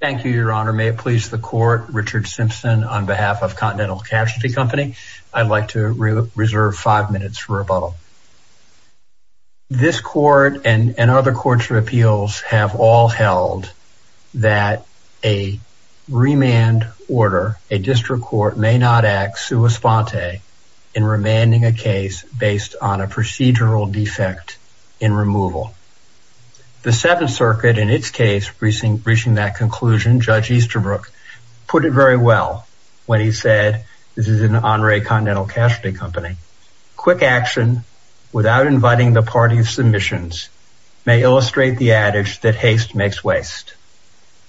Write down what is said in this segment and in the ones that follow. Thank you, Your Honor. May it please the court, Richard Simpson on behalf of Continental Casualty Company. I'd like to reserve five minutes for rebuttal. This court and other courts of appeals have all held that a remand order, a district court may not act sua sponte in remanding a case based on a procedural defect in removal. The Seventh Circuit, in its case, reaching that conclusion, Judge Easterbrook, put it very well when he said, this is an honorary Continental Casualty Company, quick action without inviting the party of submissions may illustrate the adage that haste makes waste.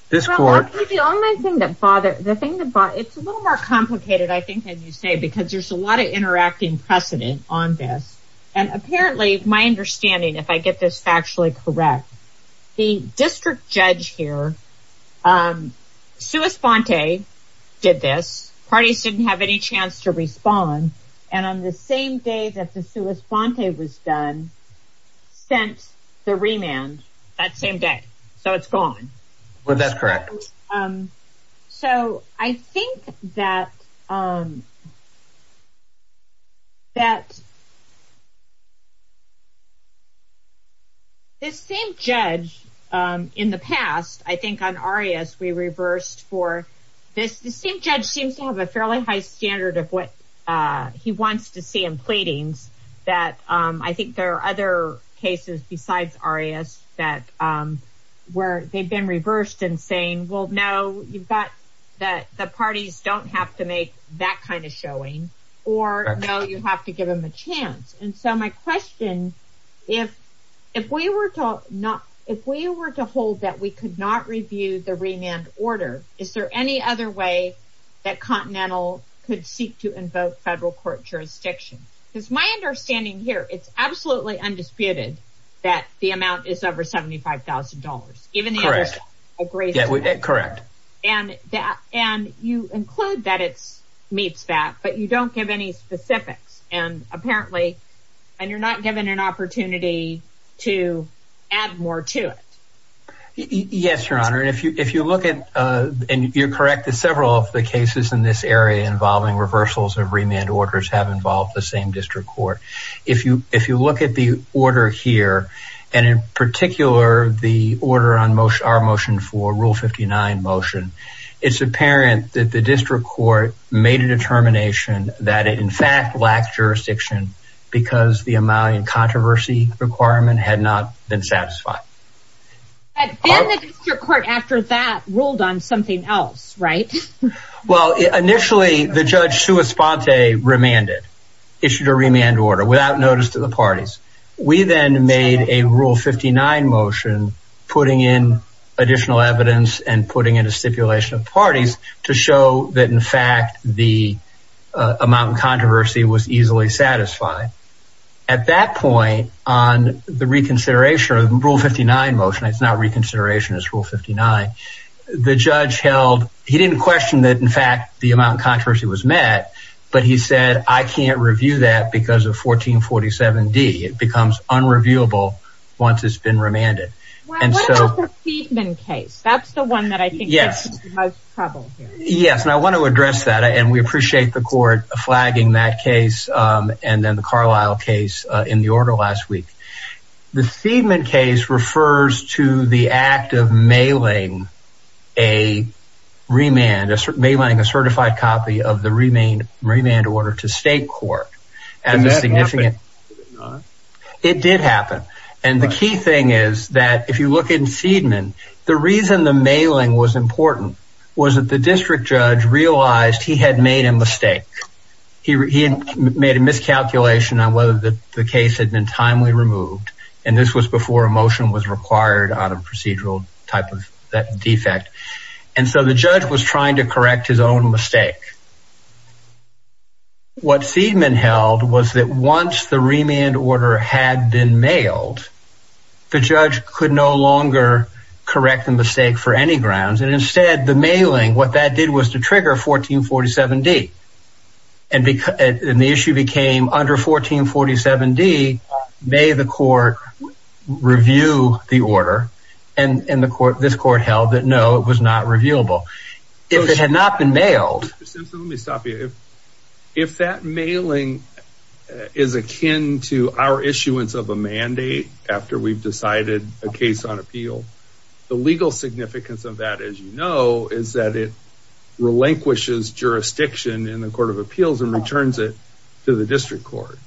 This court- The only thing that bothered, the thing that bothered, it's a little more complicated, I think, than you say, because there's a lot of interacting precedent on this. And apparently, my understanding, if I get this factually correct, the district judge here, sua sponte did this, parties didn't have any chance to respond, and on the same day that the sua sponte was done, sent the remand that same day, so it's gone. Well, that's correct. So I think that this same judge in the past, I think on Arias, we reversed for this, the same judge seems to have a fairly high standard of what he wants to see in pleadings that I think there are other cases besides Arias where they've been reversed and saying, well, no, you've got the parties don't have to make that kind of showing, or no, you have to give them a chance. And so my question, if we were to hold that we could not review the remand order, is there any other way that Continental could seek to invoke federal court jurisdiction? Because my understanding here, it's absolutely undisputed that the amount is over $75,000, even though there's a grace limit, and you include that it meets that, but you don't give any specifics. And apparently, and you're not given an opportunity to add more to it. Yes, Your Honor. And if you look at, and you're correct, several of the cases in this same district court, if you look at the order here, and in particular, the order on our motion for rule 59 motion, it's apparent that the district court made a determination that it in fact lacked jurisdiction because the Amalian controversy requirement had not been satisfied. And then the district court after that ruled on something else, right? Well, initially the judge Sua Sponte remanded, issued a remand order without notice to the parties. We then made a rule 59 motion, putting in additional evidence and putting in a stipulation of parties to show that in fact, the Amalian controversy was easily satisfied. At that point on the reconsideration of rule 59 motion, it's not reconsideration, it's rule 59. The judge held, he didn't question that. In fact, the Amalian controversy was met, but he said, I can't review that because of 1447D. It becomes unreviewable once it's been remanded. And so- What about the Seidman case? That's the one that I think gets into the most trouble here. Yes. And I want to address that and we appreciate the court flagging that case and then the Carlisle case in the order last week. The Seidman case refers to the act of mailing a remand, mailing a certified copy of the remand order to state court as a significant- It did happen. And the key thing is that if you look in Seidman, the reason the mailing was important was that the district judge realized he had made a mistake. He had made a miscalculation on whether the case had been timely removed. And this was before a motion was required out of procedural type of that defect. And so the judge was trying to correct his own mistake. What Seidman held was that once the remand order had been mailed, the judge could no longer correct the mistake for any grounds and instead the mailing, what that did was to trigger 1447D. And the issue became under 1447D, may the court review the order? And this court held that, no, it was not reviewable. If it had not been mailed- If that mailing is akin to our issuance of a mandate after we've decided a case on appeal, the legal significance of that, as you know, is that it relinquishes jurisdiction in the court of appeals and returns it to the district court.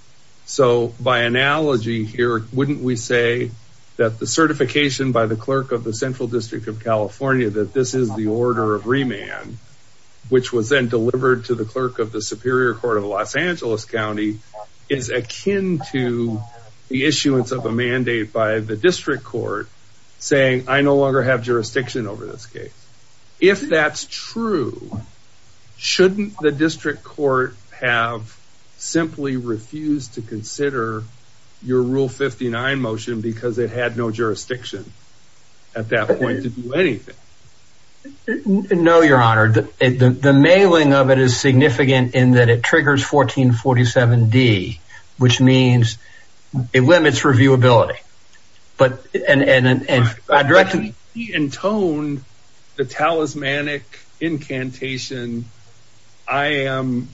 So by analogy here, wouldn't we say that the certification by the clerk of the central district of California, that this is the order of remand, which was then delivered to the clerk of the superior court of Los Angeles County is akin to the issuance of a mandate by the district court saying, I no longer have jurisdiction over this case. If that's true, shouldn't the district court have simply refused to consider your rule 59 motion because it had no jurisdiction at that point to do anything? No, your honor. The mailing of it is significant in that it triggers 1447D, which means it limits reviewability. But in tone, the talismanic incantation, I am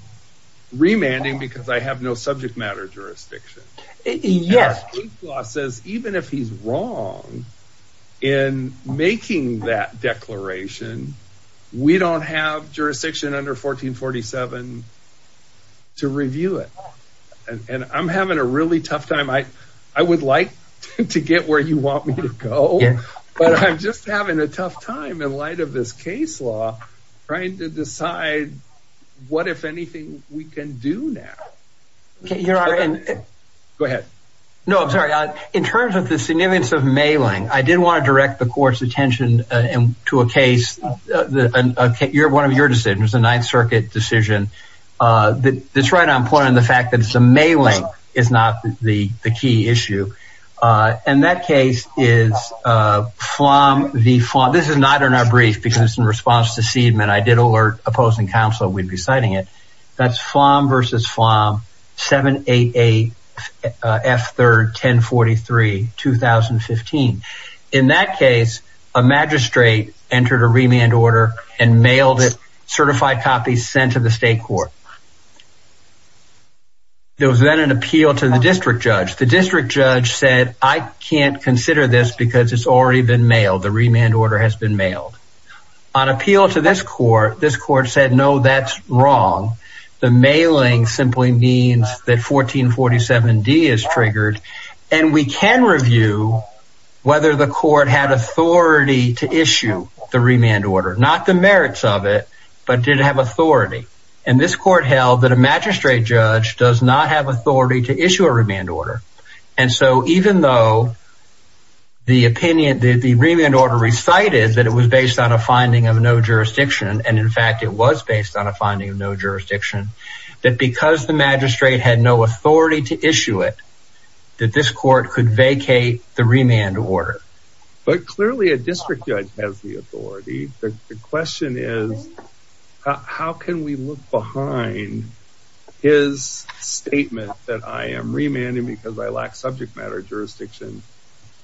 remanding because I have no subject matter jurisdiction. Yes. The state law says, even if he's wrong in making that declaration, we don't have jurisdiction under 1447 to review it. And I'm having a really tough time. I would like to get where you want me to go, but I'm just having a tough time in light of this case law, trying to decide what, if anything, we can do now. Go ahead. No, I'm sorry. In terms of the significance of mailing, I did want to direct the court's attention to a case, one of your decisions, a ninth circuit decision. That's right on point on the fact that the mailing is not the key issue. And that case is Flom v. Flom. This is not in our brief because it's in response to Seidman. I did alert opposing counsel that we'd be citing it. That's Flom v. Flom, 788F31043, 2015. In that case, a magistrate entered a remand order and mailed it, certified copies sent to the state court. There was then an appeal to the district judge. The district judge said, I can't consider this because it's already been mailed. The remand order has been mailed. On appeal to this court, this court said, no, that's wrong. The mailing simply means that 1447D is triggered and we can review whether the court had authority to issue the remand order, not the merits of it, but did have authority, and this court held that a magistrate judge does not have authority to issue a remand order. And so even though the remand order recited that it was based on a finding of no jurisdiction, and in fact, it was based on a finding of no jurisdiction, that because the magistrate had no authority to issue it, that this court could vacate the remand order. But clearly a district judge has the authority. The question is, how can we look behind his statement that I am remanding because I lack subject matter jurisdiction,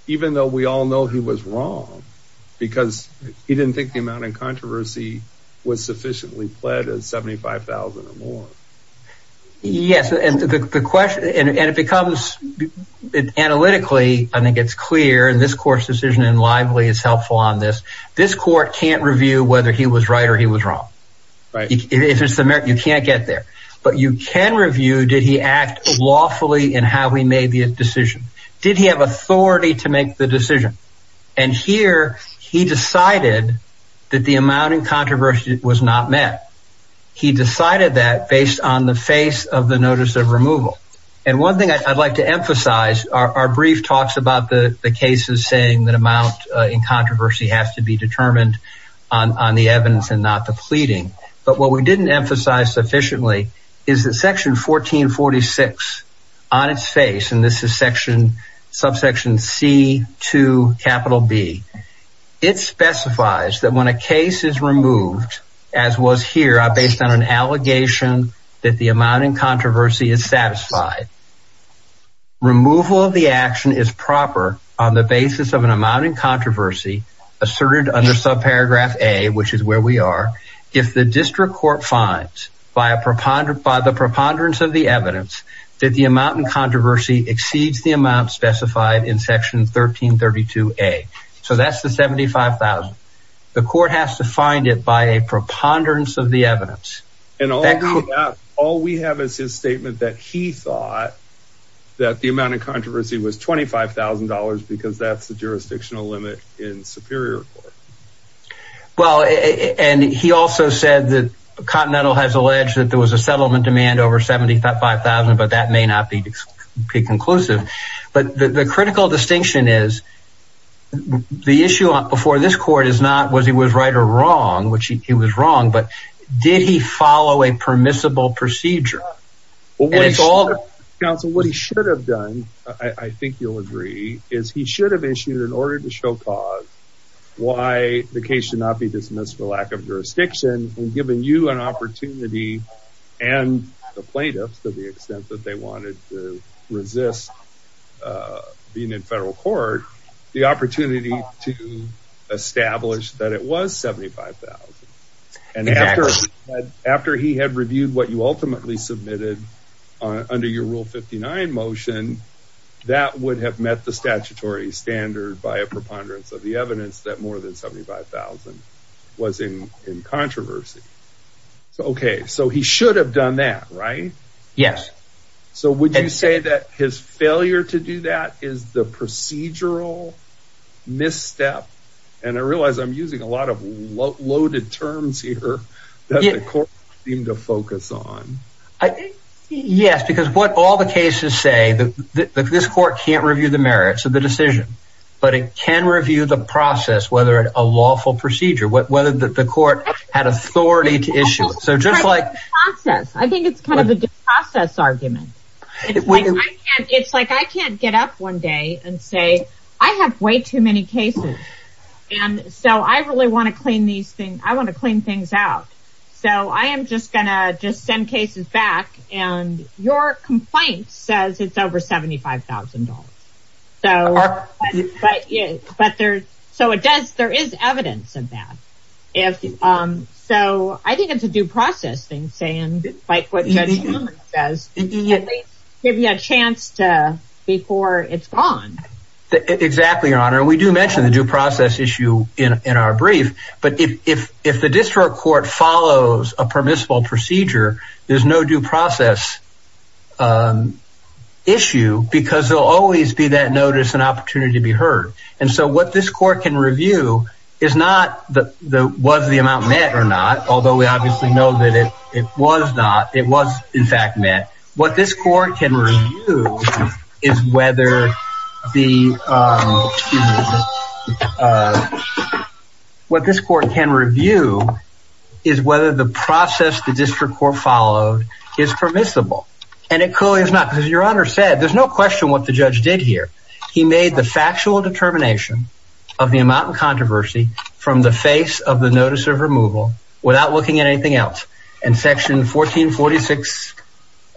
even though we all know he was wrong because he didn't think the amount of controversy was sufficiently pled at 75,000 or more. Yes. And the question, and it becomes analytically, I think it's clear, and this court's decision in Lively is helpful on this. This court can't review whether he was right or he was wrong. If it's a merit, you can't get there. But you can review, did he act lawfully in how he made the decision? Did he have authority to make the decision? And here he decided that the amount in controversy was not met. He decided that based on the face of the notice of removal. And one thing I'd like to emphasize, our brief talks about the cases saying that amount in controversy has to be determined on the evidence and not the pleading, but what we didn't emphasize sufficiently is that section 1446 on its face, and this is subsection C to capital B, it specifies that when a case is removed, as was here, based on an allegation that the amount in controversy is satisfied. Removal of the action is proper on the basis of an amount in controversy asserted under subparagraph A, which is where we are. If the district court finds by the preponderance of the evidence that the amount in controversy exceeds the amount specified in section 1332 A. So that's the 75,000. The court has to find it by a preponderance of the evidence. And all we have is his statement that he thought that the amount of controversy was $25,000 because that's the jurisdictional limit in superior court. Well, and he also said that Continental has alleged that there was a settlement demand over 75,000, but that may not be conclusive, but the critical distinction is the issue before this court is not, was he was right or wrong, which he was wrong, but did he follow a permissible procedure? Council, what he should have done, I think you'll agree, is he should have issued an order to show cause why the case should not be dismissed for lack of jurisdiction and given you an opportunity and the plaintiffs to the extent that they wanted to resist being in federal court, the opportunity to establish that it was 75,000. And after, after he had reviewed what you ultimately submitted on under your rule 59 motion, that would have met the statutory standard by a preponderance of the evidence that more than 75,000 was in, in controversy. So, okay. So he should have done that, right? Yes. So would you say that his failure to do that is the procedural misstep? And I realized I'm using a lot of loaded terms here that the court seemed to focus on, I think, yes, because what all the cases say that this court can't review the merits of the decision, but it can review the process, whether a lawful procedure, whether the court had authority to issue it. So just like, I think it's kind of a process argument. It's like, I can't get up one day and say, I have way too many cases. And so I really want to clean these things. I want to clean things out. So I am just going to just send cases back and your complaint says it's over $75,000. So, but yeah, but there's, so it does, there is evidence of that. If, um, so I think it's a due process thing saying like, what does maybe a chance to, before it's gone. Exactly. We do mention the due process issue in our brief, but if, if, if the district court follows a permissible procedure, there's no due process issue because there'll always be that notice and opportunity to be heard. And so what this court can review is not the, was the amount met or not? Although we obviously know that it was not, it was in fact met. What this court can review is whether the, um, what this court can review is whether the process the district court followed is permissible and it clearly is not because your honor said, there's no question what the judge did here. He made the factual determination of the amount of controversy from the face of the notice of removal without looking at anything else. And section 1446,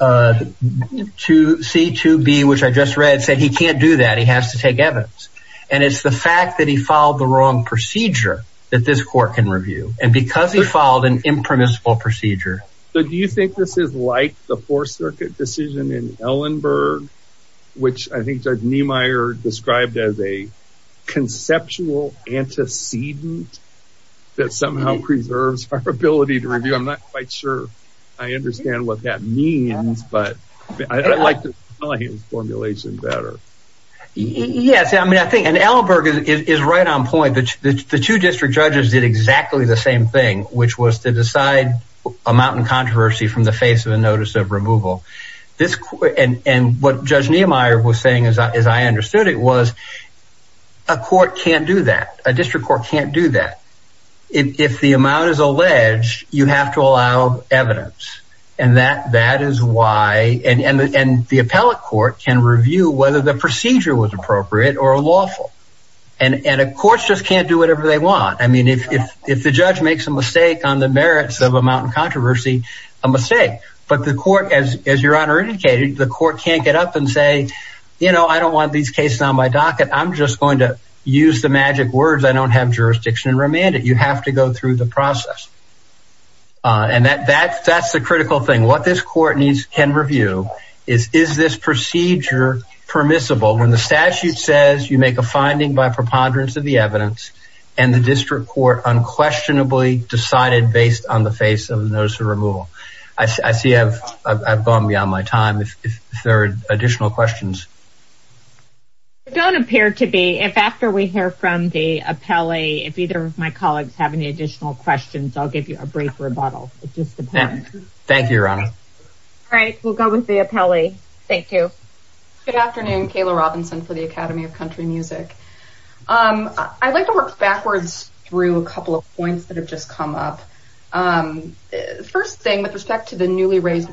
uh, 2C, 2B, which I just read said, he can't do that. He has to take evidence. And it's the fact that he followed the wrong procedure that this court can review and because he followed an impermissible procedure. So do you think this is like the fourth circuit decision in Ellenberg, which I think Judge Niemeyer described as a conceptual antecedent that somehow preserves our ability to review? I'm not quite sure. I understand what that means, but I like his formulation better. Yes. I mean, I think, and Ellenberg is right on point. The two district judges did exactly the same thing, which was to decide amount and controversy from the face of a notice of removal. This, and what Judge Niemeyer was saying, as I understood it, was a court can't do that, a district court can't do that. If the amount is alleged, you have to allow evidence. And that, that is why, and the appellate court can review whether the procedure was appropriate or lawful. And courts just can't do whatever they want. I mean, if the judge makes a mistake on the merits of amount and controversy, a mistake, but the court, as your honor indicated, the court can't get up and say, you know, I don't want these cases on my docket, I'm just going to use the remanded, you have to go through the process. And that, that's, that's the critical thing. What this court needs, can review is, is this procedure permissible when the statute says you make a finding by preponderance of the evidence and the district court unquestionably decided based on the face of a notice of removal. I see, I've gone beyond my time. If there are additional questions. It don't appear to be, if after we hear from the appellee, if either of my colleagues have any additional questions, I'll give you a brief rebuttal. It just depends. Thank you, your honor. All right. We'll go with the appellee. Thank you. Good afternoon. Kayla Robinson for the Academy of Country Music. I'd like to work backwards through a couple of points that have just come up. First thing with respect to the newly raised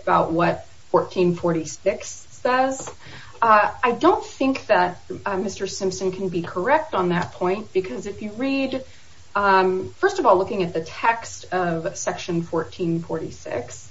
about what 1446 says. I don't think that Mr. Simpson can be correct on that point, because if you read, first of all, looking at the text of section 1446,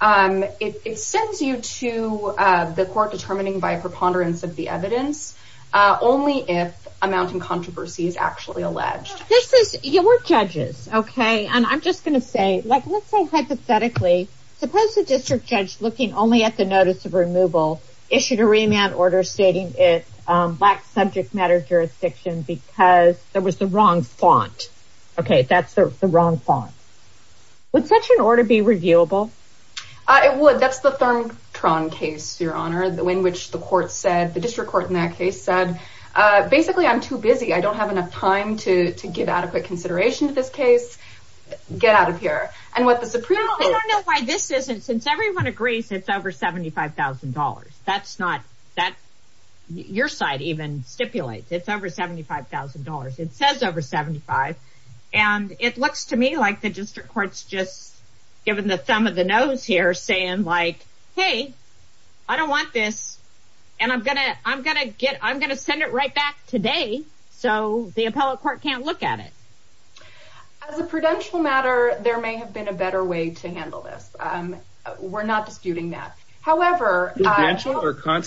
it, it sends you to the court determining by preponderance of the evidence, only if amounting controversy is actually alleged. This is your judges. Okay. And I'm just going to say, like, let's say hypothetically, suppose the district judge looking only at the notice of removal, issued a remand order stating it, um, black subject matter jurisdiction, because there was the wrong font. Okay. That's the wrong font. Would such an order be reviewable? Uh, it would. That's the third Tron case, your honor, the way in which the court said the district court in that case said, uh, basically I'm too busy. I don't have enough time to, to give adequate consideration to this case. Get out of here. And what the Supreme. Why this isn't since everyone agrees, it's over $75,000. That's not that your side even stipulates it's over $75,000. It says over 75. And it looks to me like the district court's just given the thumb of the nose here saying like, Hey, I don't want this. And I'm going to, I'm going to get, I'm going to send it right back today. So the appellate court can't look at it. As a prudential matter, there may have been a better way to handle this. Um, we're not disputing that. However, I think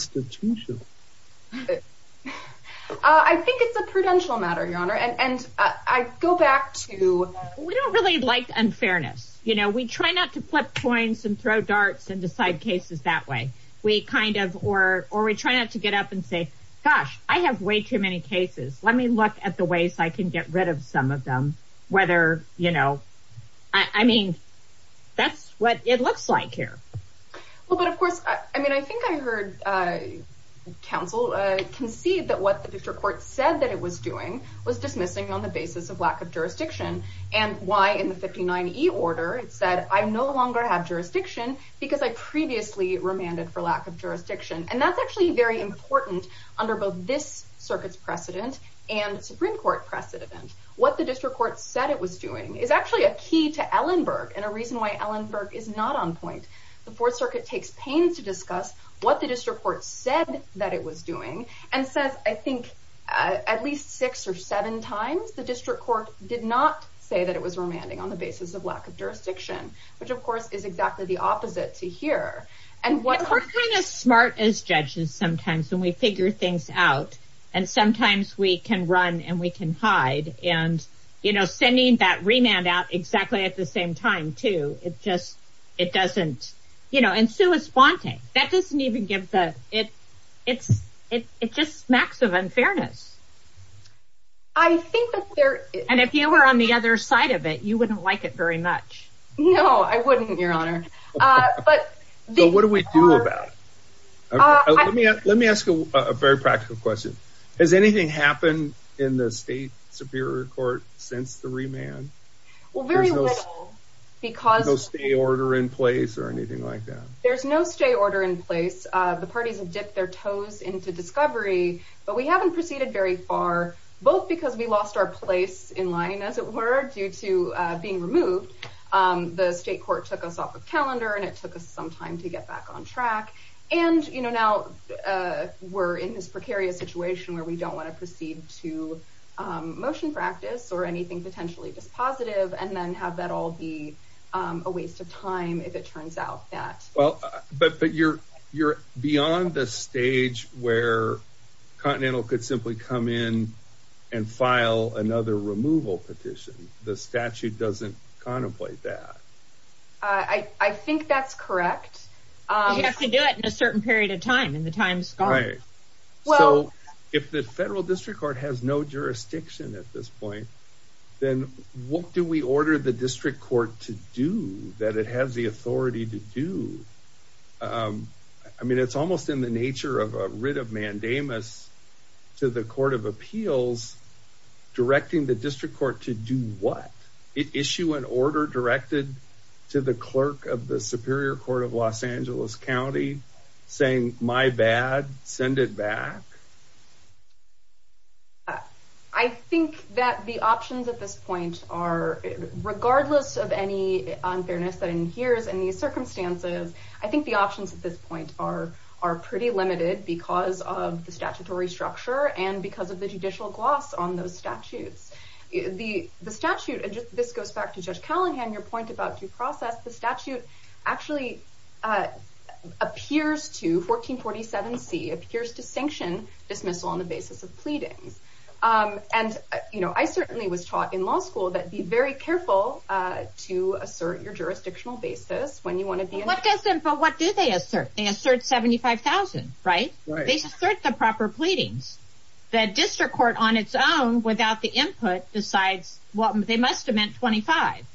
it's a prudential matter, your honor. And, and I go back to, we don't really like unfairness. You know, we try not to flip coins and throw darts and decide cases that way. We kind of, or, or we try not to get up and say, gosh, I have way too many cases. Let me look at the ways I can get rid of some of them. Whether, you know, I mean, that's what it looks like here. Well, but of course, I mean, I think I heard, uh, council, uh, concede that what the district court said that it was doing was dismissing on the basis of lack of jurisdiction and why in the 59 E order, it said I'm no longer have jurisdiction because I previously remanded for lack of jurisdiction. And that's actually very important under both this circuit's precedent and Supreme court precedent event. What the district court said it was doing is actually a key to Ellenberg and a reason why Ellenberg is not on point. The fourth circuit takes pains to discuss what the district court said that it was doing and says, I think, uh, at least six or seven times, the district court did not say that it was remanding on the basis of lack of jurisdiction, which of course is exactly the opposite to here. And what smart as judges sometimes when we figure things out and sometimes we can run and we can hide and, you know, sending that remand out exactly at the same time too. It just, it doesn't, you know, and Sue is faunting that doesn't even give the, it, it's, it, it just smacks of unfairness. I think that there, and if you were on the other side of it, you wouldn't like it very much. No, I wouldn't your honor. Uh, but what do we do about, let me, let me ask a very practical question. Has anything happened in the state superior court since the remand? Well, very little because stay order in place or anything like that. There's no stay order in place. Uh, the parties have dipped their toes into discovery, but we haven't proceeded very far, both because we lost our place in line as it were due to being removed. Um, the state court took us off of calendar and it took us some time to get back on track. And, you know, now, uh, we're in this precarious situation where we don't want to proceed to, um, motion practice or anything potentially dispositive. And then have that all be, um, a waste of time if it turns out that well, but, but you're, you're beyond the stage where continental could simply come in and file another removal petition. The statute doesn't contemplate that. Uh, I, I think that's correct. Um, you have to do it in a certain period of time in the times. Well, if the federal district court has no jurisdiction at this point, then what do we order the district court to do that? It has the authority to do. Um, I mean, it's almost in the nature of a writ of mandamus to the court of appeals, directing the district court to do what it issue an order directed. To the clerk of the superior court of Los Angeles County saying my bad, send it back. I think that the options at this point are regardless of any unfairness that in here's any circumstances, I think the options at this point are, are pretty limited because of the statutory structure and because of the judicial gloss on those statutes, the statute, and just, this goes back to judge your point about due process. The statute actually, uh, appears to 1447 C appears to sanction dismissal on the basis of pleadings. Um, and you know, I certainly was taught in law school that be very careful, uh, to assert your jurisdictional basis when you want to be, but what do they assert? They assert 75,000, right? They assert the proper pleadings that district court on its own without the input decides what they must have meant. 25.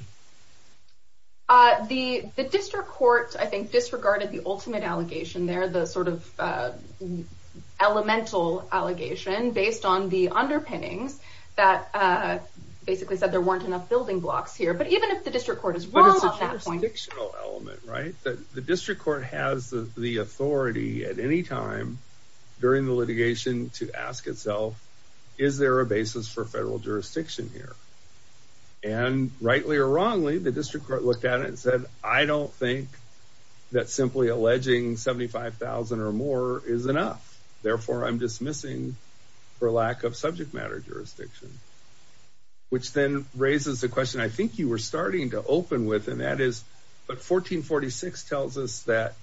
Uh, the, the district court, I think disregarded the ultimate allegation there, the sort of, uh, elemental allegation based on the underpinnings that, uh, basically said there weren't enough building blocks here, but even if the district court is wrong on that point, the district court has the authority at any time during the litigation to ask itself, is there a basis for federal jurisdiction here? And rightly or wrongly, the district court looked at it and said, I don't think that simply alleging 75,000 or more is enough, therefore I'm dismissing for lack of subject matter jurisdiction, which then raises the question. I think you were starting to open with, and that is, but 1446 tells us that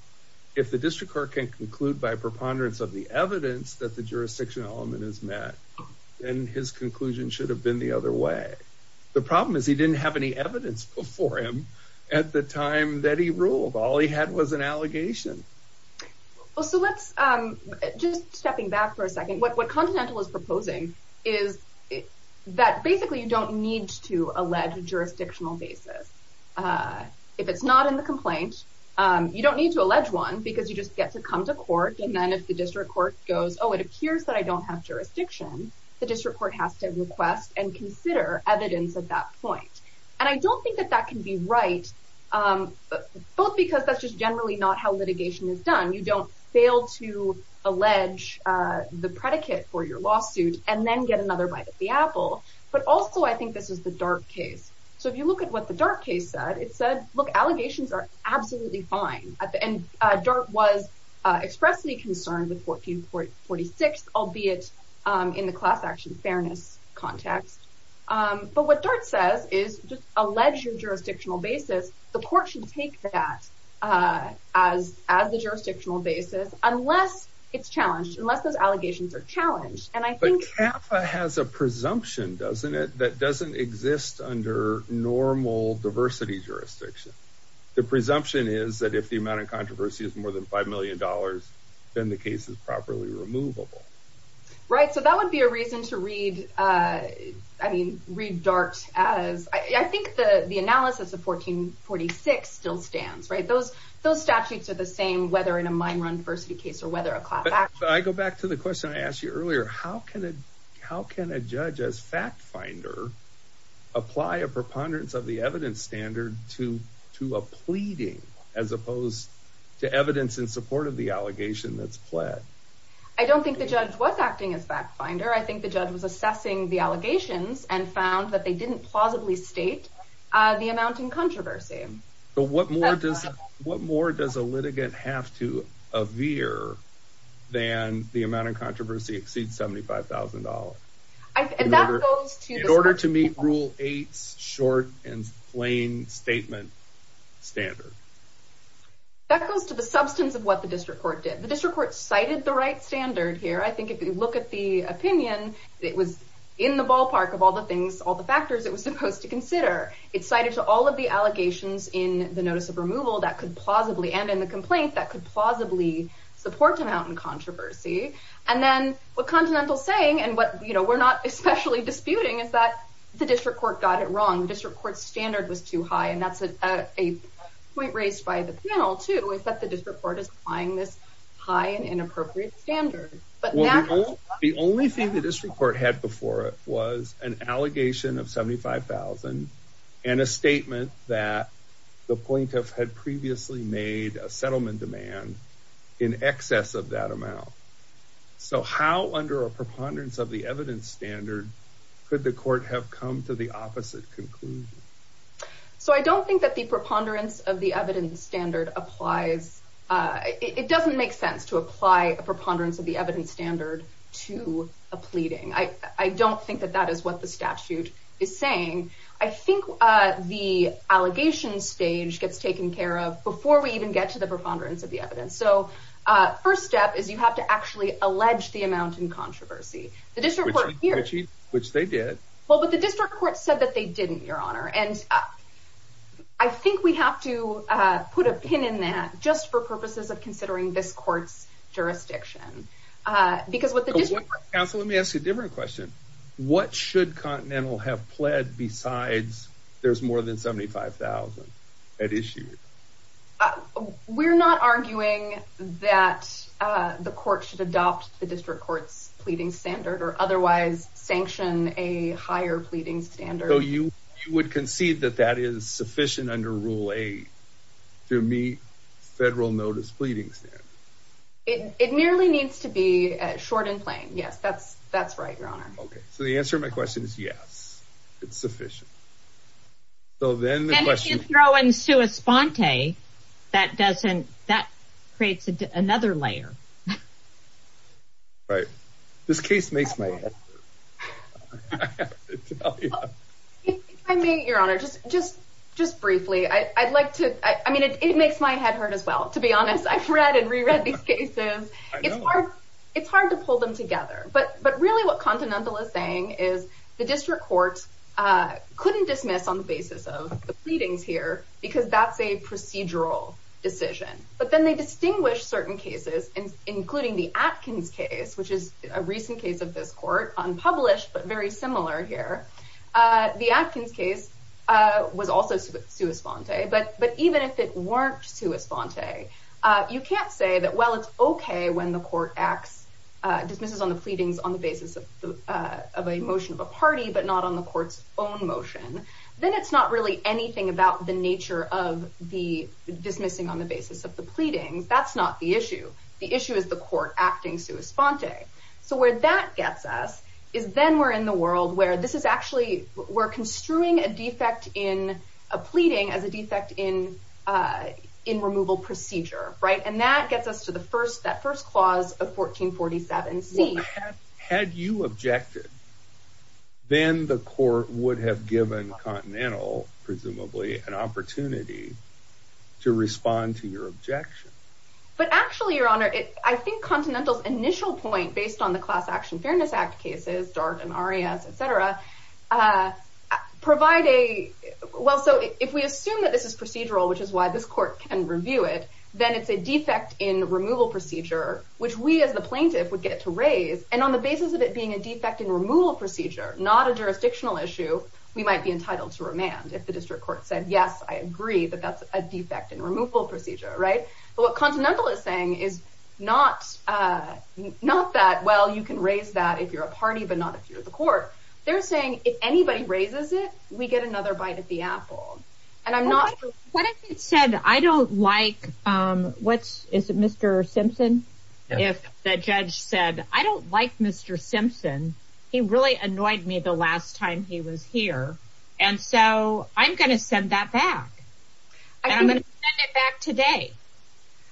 if the district court can conclude by preponderance of the evidence that the The problem is he didn't have any evidence before him at the time that he ruled, all he had was an allegation. Well, so let's, um, just stepping back for a second. What, what Continental is proposing is that basically you don't need to allege a jurisdictional basis. Uh, if it's not in the complaint, um, you don't need to allege one because you just get to come to court. And then if the district court goes, oh, it appears that I don't have The district court has to request and consider evidence at that point. And I don't think that that can be right. Um, both because that's just generally not how litigation is done. You don't fail to allege, uh, the predicate for your lawsuit and then get another bite at the apple. But also I think this is the dark case. So if you look at what the dark case said, it said, look, allegations are absolutely fine. And, uh, DART was, uh, expressly concerned with 1446, albeit, um, in the class action fairness context. Um, but what DART says is just allege your jurisdictional basis. The court should take that, uh, as, as the jurisdictional basis, unless it's challenged, unless those allegations are challenged. And I think Kappa has a presumption, doesn't it? That doesn't exist under normal diversity jurisdiction. The presumption is that if the amount of controversy is more than $5 million, then the case is properly removable. Right. So that would be a reason to read, uh, I mean, read DART as I think the, the analysis of 1446 still stands, right? Those, those statutes are the same, whether in a mine run diversity case or whether a class, I go back to the question I asked you earlier, how can it, how can a judge as fact finder apply a preponderance of the evidence standard to, to a pleading as opposed to evidence in support of the allegation that's pled. I don't think the judge was acting as fact finder. I think the judge was assessing the allegations and found that they didn't plausibly state, uh, the amount in controversy. But what more does, what more does a litigant have to a veer than the amount of controversy exceeds $75,000. I, in order to meet rule eight, short and plain statement standard. That goes to the substance of what the district court did. The district court cited the right standard here. I think if you look at the opinion, it was in the ballpark of all the things, all the factors it was supposed to consider it cited to all of the allegations in the notice of removal that could plausibly, and in the complaint that could plausibly support amount in controversy, and then what especially disputing is that the district court got it wrong. The district court standard was too high. And that's a point raised by the panel too, is that the district court is applying this high and inappropriate standard, but the only thing that this report had before it was an allegation of 75,000 and a statement that the point of had previously made a settlement demand in excess of that could the court have come to the opposite conclusion? So I don't think that the preponderance of the evidence standard applies. Uh, it doesn't make sense to apply a preponderance of the evidence standard to a pleading. I, I don't think that that is what the statute is saying. I think, uh, the allegation stage gets taken care of before we even get to the preponderance of the evidence. So, uh, first step is you have to actually allege the amount in controversy. The district court here, which they did well, but the district court said that they didn't, your honor. And I think we have to, uh, put a pin in that just for purposes of considering this court's jurisdiction. Uh, because what the district counsel, let me ask you a different question. What should continental have pled besides there's more than 75,000 at issue. Uh, we're not arguing that, uh, the court should adopt the district court's pleading standard or otherwise sanction a higher pleading standard. So you, you would concede that that is sufficient under rule eight to meet federal notice pleading standard. It, it merely needs to be short and plain. Yes. That's, that's right. Your honor. Okay. So the answer to my question is yes, it's sufficient. So then throw in sui sponte that doesn't, that creates another layer. Okay. Right. This case makes my head. I mean, your honor, just, just, just briefly. I I'd like to, I mean, it, it makes my head hurt as well. To be honest, I've read and reread these cases. It's hard. It's hard to pull them together, but, but really what continental is saying is the district court, uh, couldn't dismiss on the basis of the pleadings here, because that's a procedural decision, but then they distinguish certain cases and including the Atkins case, which is a recent case of this court unpublished, but very similar here. Uh, the Atkins case, uh, was also sui sponte, but, but even if it weren't sui sponte, uh, you can't say that, well, it's okay when the court acts, uh, dismisses on the pleadings on the basis of, uh, of a motion of a party, but not on the court's own motion. Then it's not really anything about the nature of the dismissing on the basis of the pleadings. That's not the issue. The issue is the court acting sui sponte. So where that gets us is then we're in the world where this is actually, we're construing a defect in a pleading as a defect in, uh, in removal procedure. Right. And that gets us to the first, that first clause of 1447 C. Had you objected, then the court would have given continental presumably an opportunity to respond to your objection. But actually your honor, it, I think continentals initial point based on the class action fairness act cases, dark and Arias, et cetera, uh, provide a, well, so if we assume that this is procedural, which is why this court can review it, then it's a defect in removal procedure, which we as the plaintiff would get to raise and on the basis of it being a defect in removal procedure, not a jurisdictional issue, we might be entitled to remand if the district court said, yes, I agree that that's a defect in removal procedure. Right. But what continental is saying is not, uh, not that, well, you can raise that if you're a party, but not if you're at the court, they're saying if anybody raises it, we get another bite at the apple and I'm not, what if it said, I don't like, um, what's is it? Mr. Simpson. If the judge said, I don't like Mr. Simpson, he really annoyed me the last time he was here. And so I'm going to send that back and I'm going to send it back today.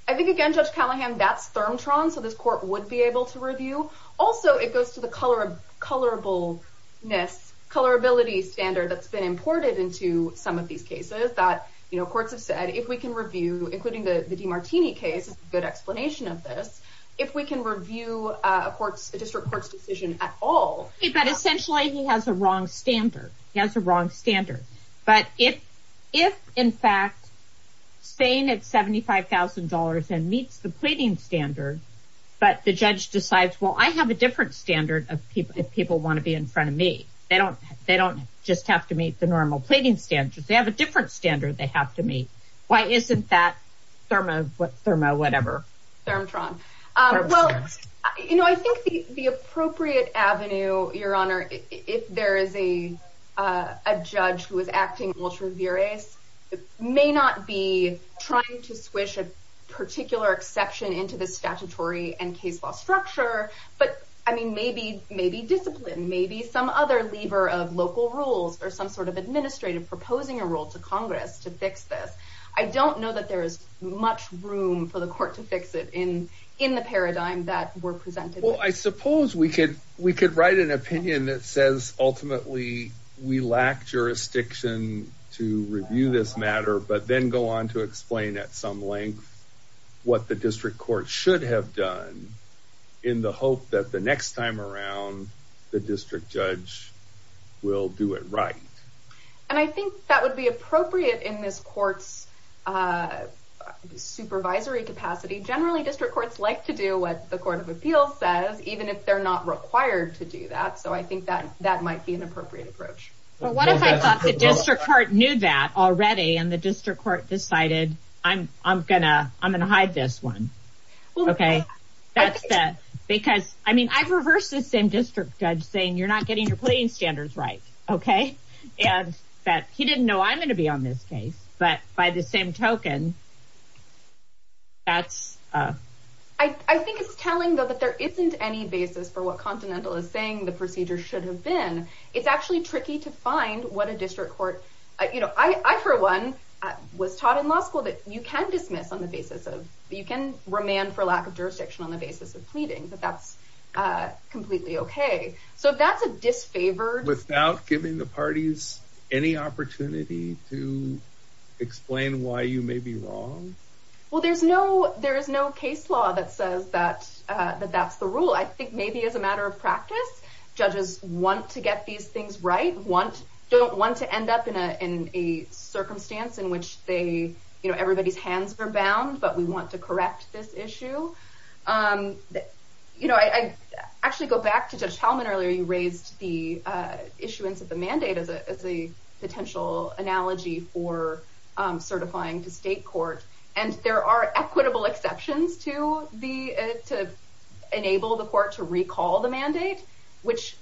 I think again, judge Callahan, that's thermotron. So this court would be able to review. Also, it goes to the color of colorable Ness colorability standard that's been imported into some of these cases that, you know, courts have said, if we can review, including the, the Demartini case, good explanation of this, if we can review a court's district court's decision at all, but essentially he has a wrong standard, he has a wrong standard. But if, if in fact staying at $75,000 and meets the pleading standard, but the judge decides, well, I have a different standard of people, if people want to be in front of me, they don't, they don't just have to meet the normal pleading standards. They have a different standard. They have to meet. Why isn't that thermo, thermo, whatever. Thermotron. Um, well, you know, I think the appropriate Avenue, your honor, if there is a, uh, a judge who was acting ultra virus, it may not be trying to squish a particular exception into the statutory and case law structure, but I mean, maybe, maybe discipline, maybe some other lever of local rules or some sort of administrative proposing a role to Congress to fix this. I don't know that there is much room for the court to fix it in, in the paradigm that were presented. Well, I suppose we could, we could write an opinion that says ultimately we lack jurisdiction to review this matter, but then go on to explain at some length. What the district court should have done in the hope that the next time around the district judge will do it. Right. And I think that would be appropriate in this court's, uh, supervisory capacity. Generally district courts like to do what the court of appeals says, even if they're not required to do that. So I think that, that might be an appropriate approach. But what if I thought the district court knew that already and the district court decided I'm, I'm gonna, I'm going to hide this one. Okay. That's that because I mean, I've reversed the same district judge saying you're not getting your pleading standards, right. Okay. And that he didn't know I'm going to be on this case, but by the same token. That's, uh, I think it's telling though, that there isn't any basis for what Continental is saying the procedure should have been, it's actually tricky to find what a district court, you know, I, I for one was taught in law school that you can dismiss on the basis of, you can remand for lack of jurisdiction on the basis of pleading, but that's, uh, completely okay. So that's a disfavored without giving the parties any opportunity to explain why you may be wrong. Well, there's no, there is no case law that says that, uh, that that's the rule. I think maybe as a matter of practice, judges want to get these things, right. Want, don't want to end up in a, in a circumstance in which they, you know, everybody's hands are bound, but we want to correct this issue. Um, you know, I, I actually go back to judge Hellman earlier. You raised the, uh, issuance of the mandate as a, as a potential analogy for, um, certifying to state court. And there are equitable exceptions to the, uh, to enable the court to recall the mandate, which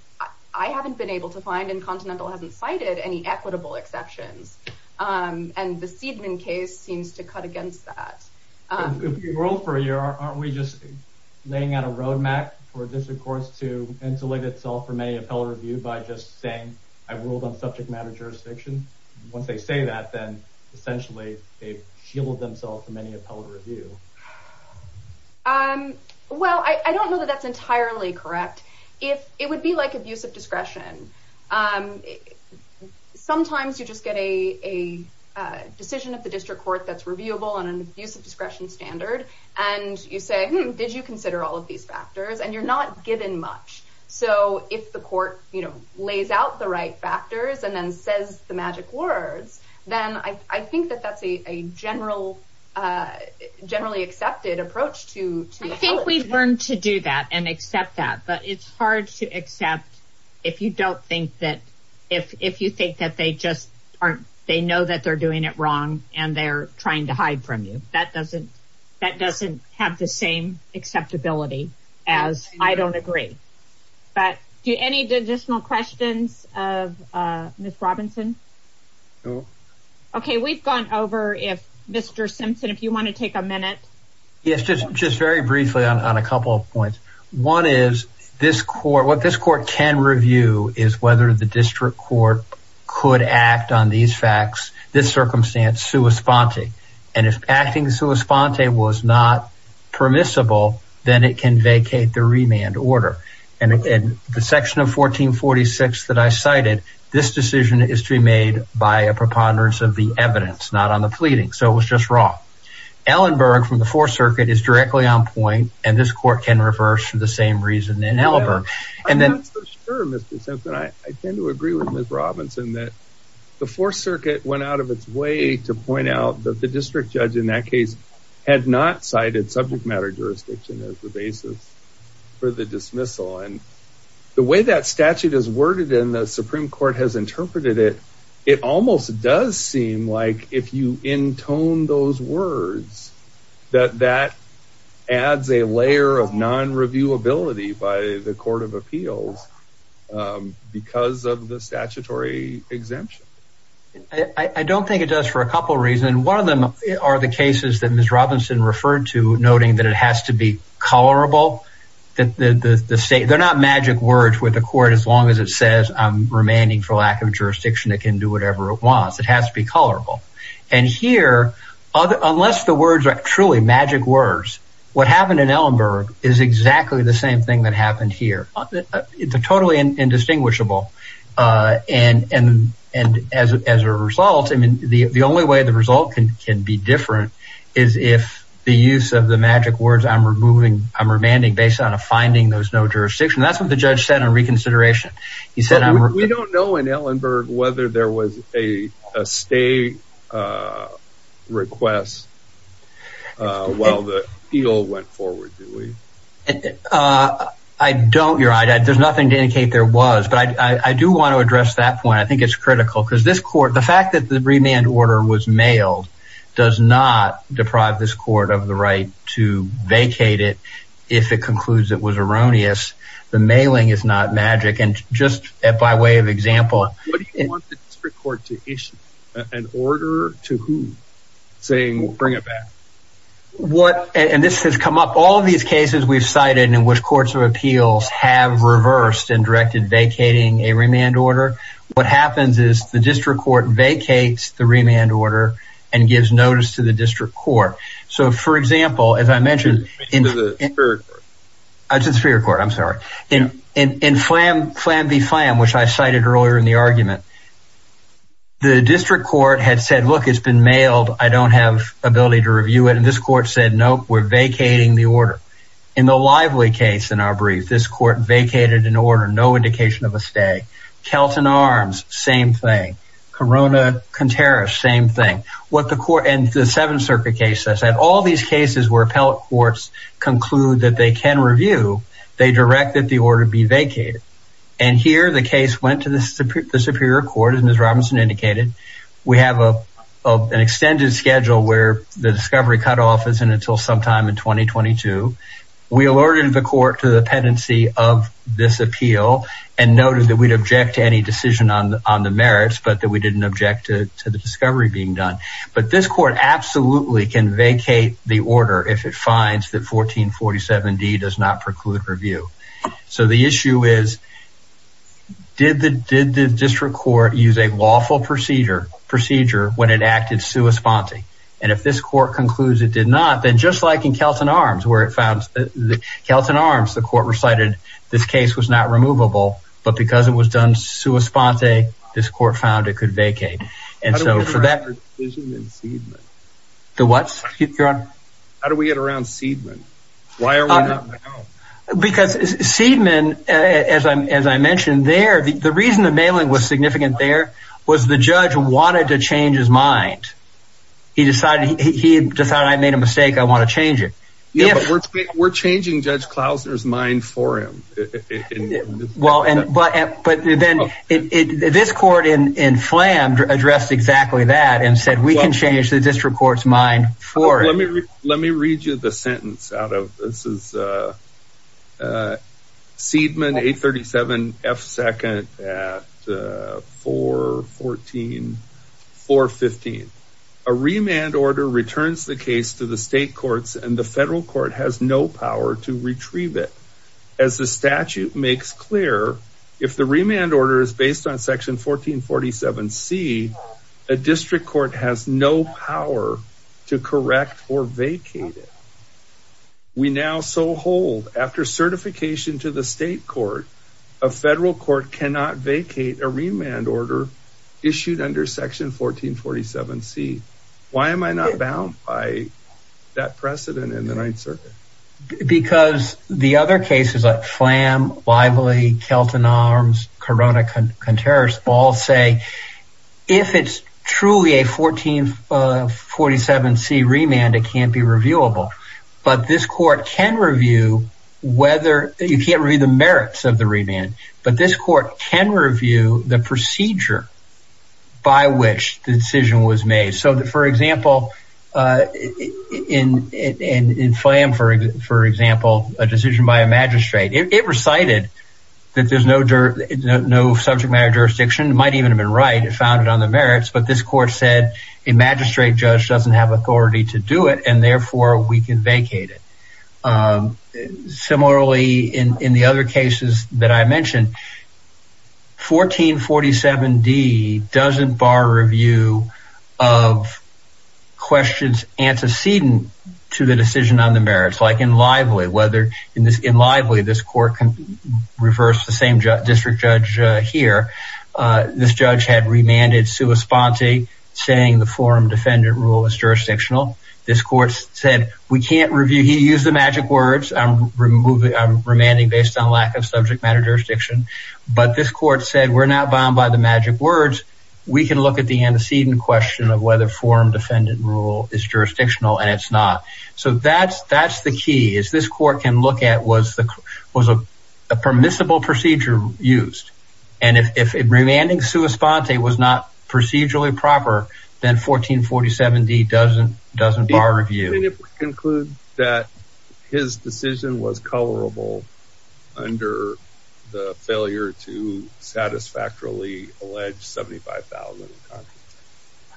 I haven't been able to find and Continental hasn't cited any equitable exceptions. Um, and the Seidman case seems to cut against that. Um, if you roll for a year, aren't we just laying out a roadmap for district courts to insulate itself from any appellate review by just saying I ruled on subject matter, jurisdiction, once they say that, then essentially they've healed themselves from any appellate review. Um, well, I, I don't know that that's entirely correct. If it would be like abuse of discretion. Um, sometimes you just get a, a, uh, decision of the district court. That's reviewable on an abuse of discretion standard. And you say, did you consider all of these factors and you're not given much. So if the court, you know, lays out the right factors and then says the magic words, then I, I think that that's a, a general, uh, generally accepted approach to, I think we've learned to do that and accept that, but it's hard to accept if you don't think that if, if you think that they just aren't, they know that they're doing it wrong and they're trying to hide from you, that doesn't, that doesn't have the same acceptability as I don't agree. But do any additional questions of, uh, Ms. Robinson? Okay. We've gone over if Mr. Simpson, if you want to take a minute. Yes, just, just very briefly on, on a couple of points. One is this court, what this court can review is whether the district court could act on these facts, this circumstance, sua sponte. And if acting sua sponte was not permissible, then it can vacate the remand order and, and the section of 1446 that I cited, this decision is to be made by a preponderance of the evidence, not on the pleading. So it was just wrong. Ellenberg from the fourth circuit is directly on point and this court can reverse for the same reason in Ellenberg. And then I'm not so sure Mr. Simpson, I tend to agree with Ms. Robinson that the fourth circuit went out of its way to point out that the district judge in that case had not cited subject matter jurisdiction as the dismissal and the way that statute is worded in the Supreme court has interpreted it, it almost does seem like if you intone those words, that that adds a layer of non reviewability by the court of appeals because of the statutory exemption. I don't think it does for a couple of reasons. One of them are the cases that Ms. Robinson referred to noting that it has to be colorable. That the state, they're not magic words with the court, as long as it says I'm remanding for lack of jurisdiction, it can do whatever it wants. It has to be colorable. And here, unless the words are truly magic words, what happened in Ellenberg is exactly the same thing that happened here. It's a totally indistinguishable and, and, and as, as a result, I mean, the, the only way the result can, can be different is if the use of the magic words I'm removing, I'm remanding based on a finding there was no jurisdiction. That's what the judge said on reconsideration. He said, we don't know in Ellenberg whether there was a, a stay request while the appeal went forward, do we? I don't, you're right. There's nothing to indicate there was, but I do want to address that point. I think it's critical because this court, the fact that the remand order was mailed does not deprive this court of the right to vacate it if it concludes it was erroneous. The mailing is not magic. And just by way of example, What do you want the district court to issue? An order to whom? Saying, bring it back. What, and this has come up all of these cases we've cited in which courts of appeals have reversed and directed vacating a remand order. What happens is the district court vacates the remand order and gives notice to the district court. So for example, as I mentioned, it's the Superior Court, I'm sorry. In Flam v. Flam, which I cited earlier in the argument, the district court had said, look, it's been mailed. I don't have ability to review it. And this court said, nope, we're vacating the order. In the Lively case in our brief, this court vacated an order, no indication of a stay. Kelton Arms, same thing. Corona Conterras, same thing. What the court, and the Seventh Circuit case, I said, all these cases where appellate courts conclude that they can review, they directed the order be vacated. And here the case went to the Superior Court, as Ms. Robinson indicated. We have an extended schedule where the discovery cutoff isn't until sometime in 2022. We alerted the court to the pendency of this appeal and noted that we'd object to any decision on the merits, but that we didn't object to the discovery being done. But this court absolutely can vacate the order if it finds that 1447D does not preclude review. So the issue is, did the district court use a lawful procedure when it acted sua sponte? And if this court concludes it did not, then just like in Kelton Arms, where it found, Kelton Arms, the court recited, this case was not removable, but because it was done sua sponte, this court found it could vacate. And so for that- How do we get around the decision in Seidman? The what, Your Honor? How do we get around Seidman? Why are we not in the house? Because Seidman, as I mentioned there, the reason the mailing was significant there was the judge wanted to change his mind. He decided, he decided, I made a mistake, I want to change it. Yeah, but we're changing Judge Klausner's mind for him. Well, but then this court in Flam addressed exactly that and said, we can change the district court's mind for him. Let me read you the sentence out of, this is Seidman 837F2nd at 414, 415. A remand order returns the case to the state courts, and the federal court has no power to retrieve it. As the statute makes clear, if the remand order is based on section 1447C, a district court has no power to correct or vacate it. We now so hold after certification to the state court, a federal court cannot vacate a remand order issued under section 1447C. Why am I not bound by that precedent in the Ninth Circuit? Because the other cases like Flam, Lively, Kelton Arms, Corona-Conterras all say, if it's truly a 1447C remand, it can't be reviewable. But this court can review whether, you can't read the merits of the remand, but this court can review the procedure by which the decision was made. So for example, in Flam, for example, a decision by a magistrate, it recited that there's no subject matter jurisdiction. It might even have been right. It found it on the merits, but this court said a magistrate judge doesn't have authority to do it and therefore we can vacate it. Similarly, in the other cases that I mentioned, 1447D doesn't bar review of questions antecedent to the decision on the merits. Like in Lively, whether in Lively, this court can reverse the same district judge here. This judge had remanded sua sponte saying the forum defendant rule is jurisdictional. This court said, we can't review. He used the magic words. I'm remanding based on lack of subject matter jurisdiction, but this court said, we're not bound by the magic words. We can look at the antecedent question of whether forum defendant rule is jurisdictional and it's not. So that's the key is this court can look at was a permissible procedure used. And if remanding sua sponte was not procedurally proper, then 1447D doesn't bar review. And if we conclude that his decision was colorable under the failure to satisfactorily allege 75,000.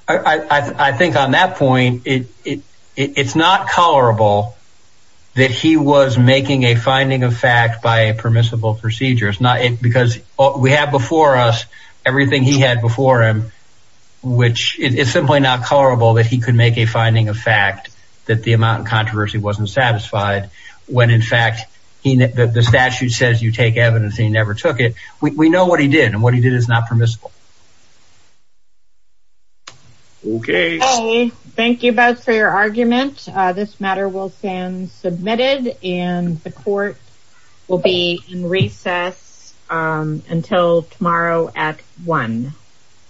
I think on that point, it's not colorable that he was making a finding of fact by a permissible procedure. Because we have before us everything he had before him, which is simply not colorable that he could make a finding of fact that the amount of controversy wasn't satisfied. When in fact, the statute says you take evidence, he never took it. We know what he did and what he did is not permissible. Okay. Thank you both for your argument. This matter will stand submitted and the court will be in recess until tomorrow at one.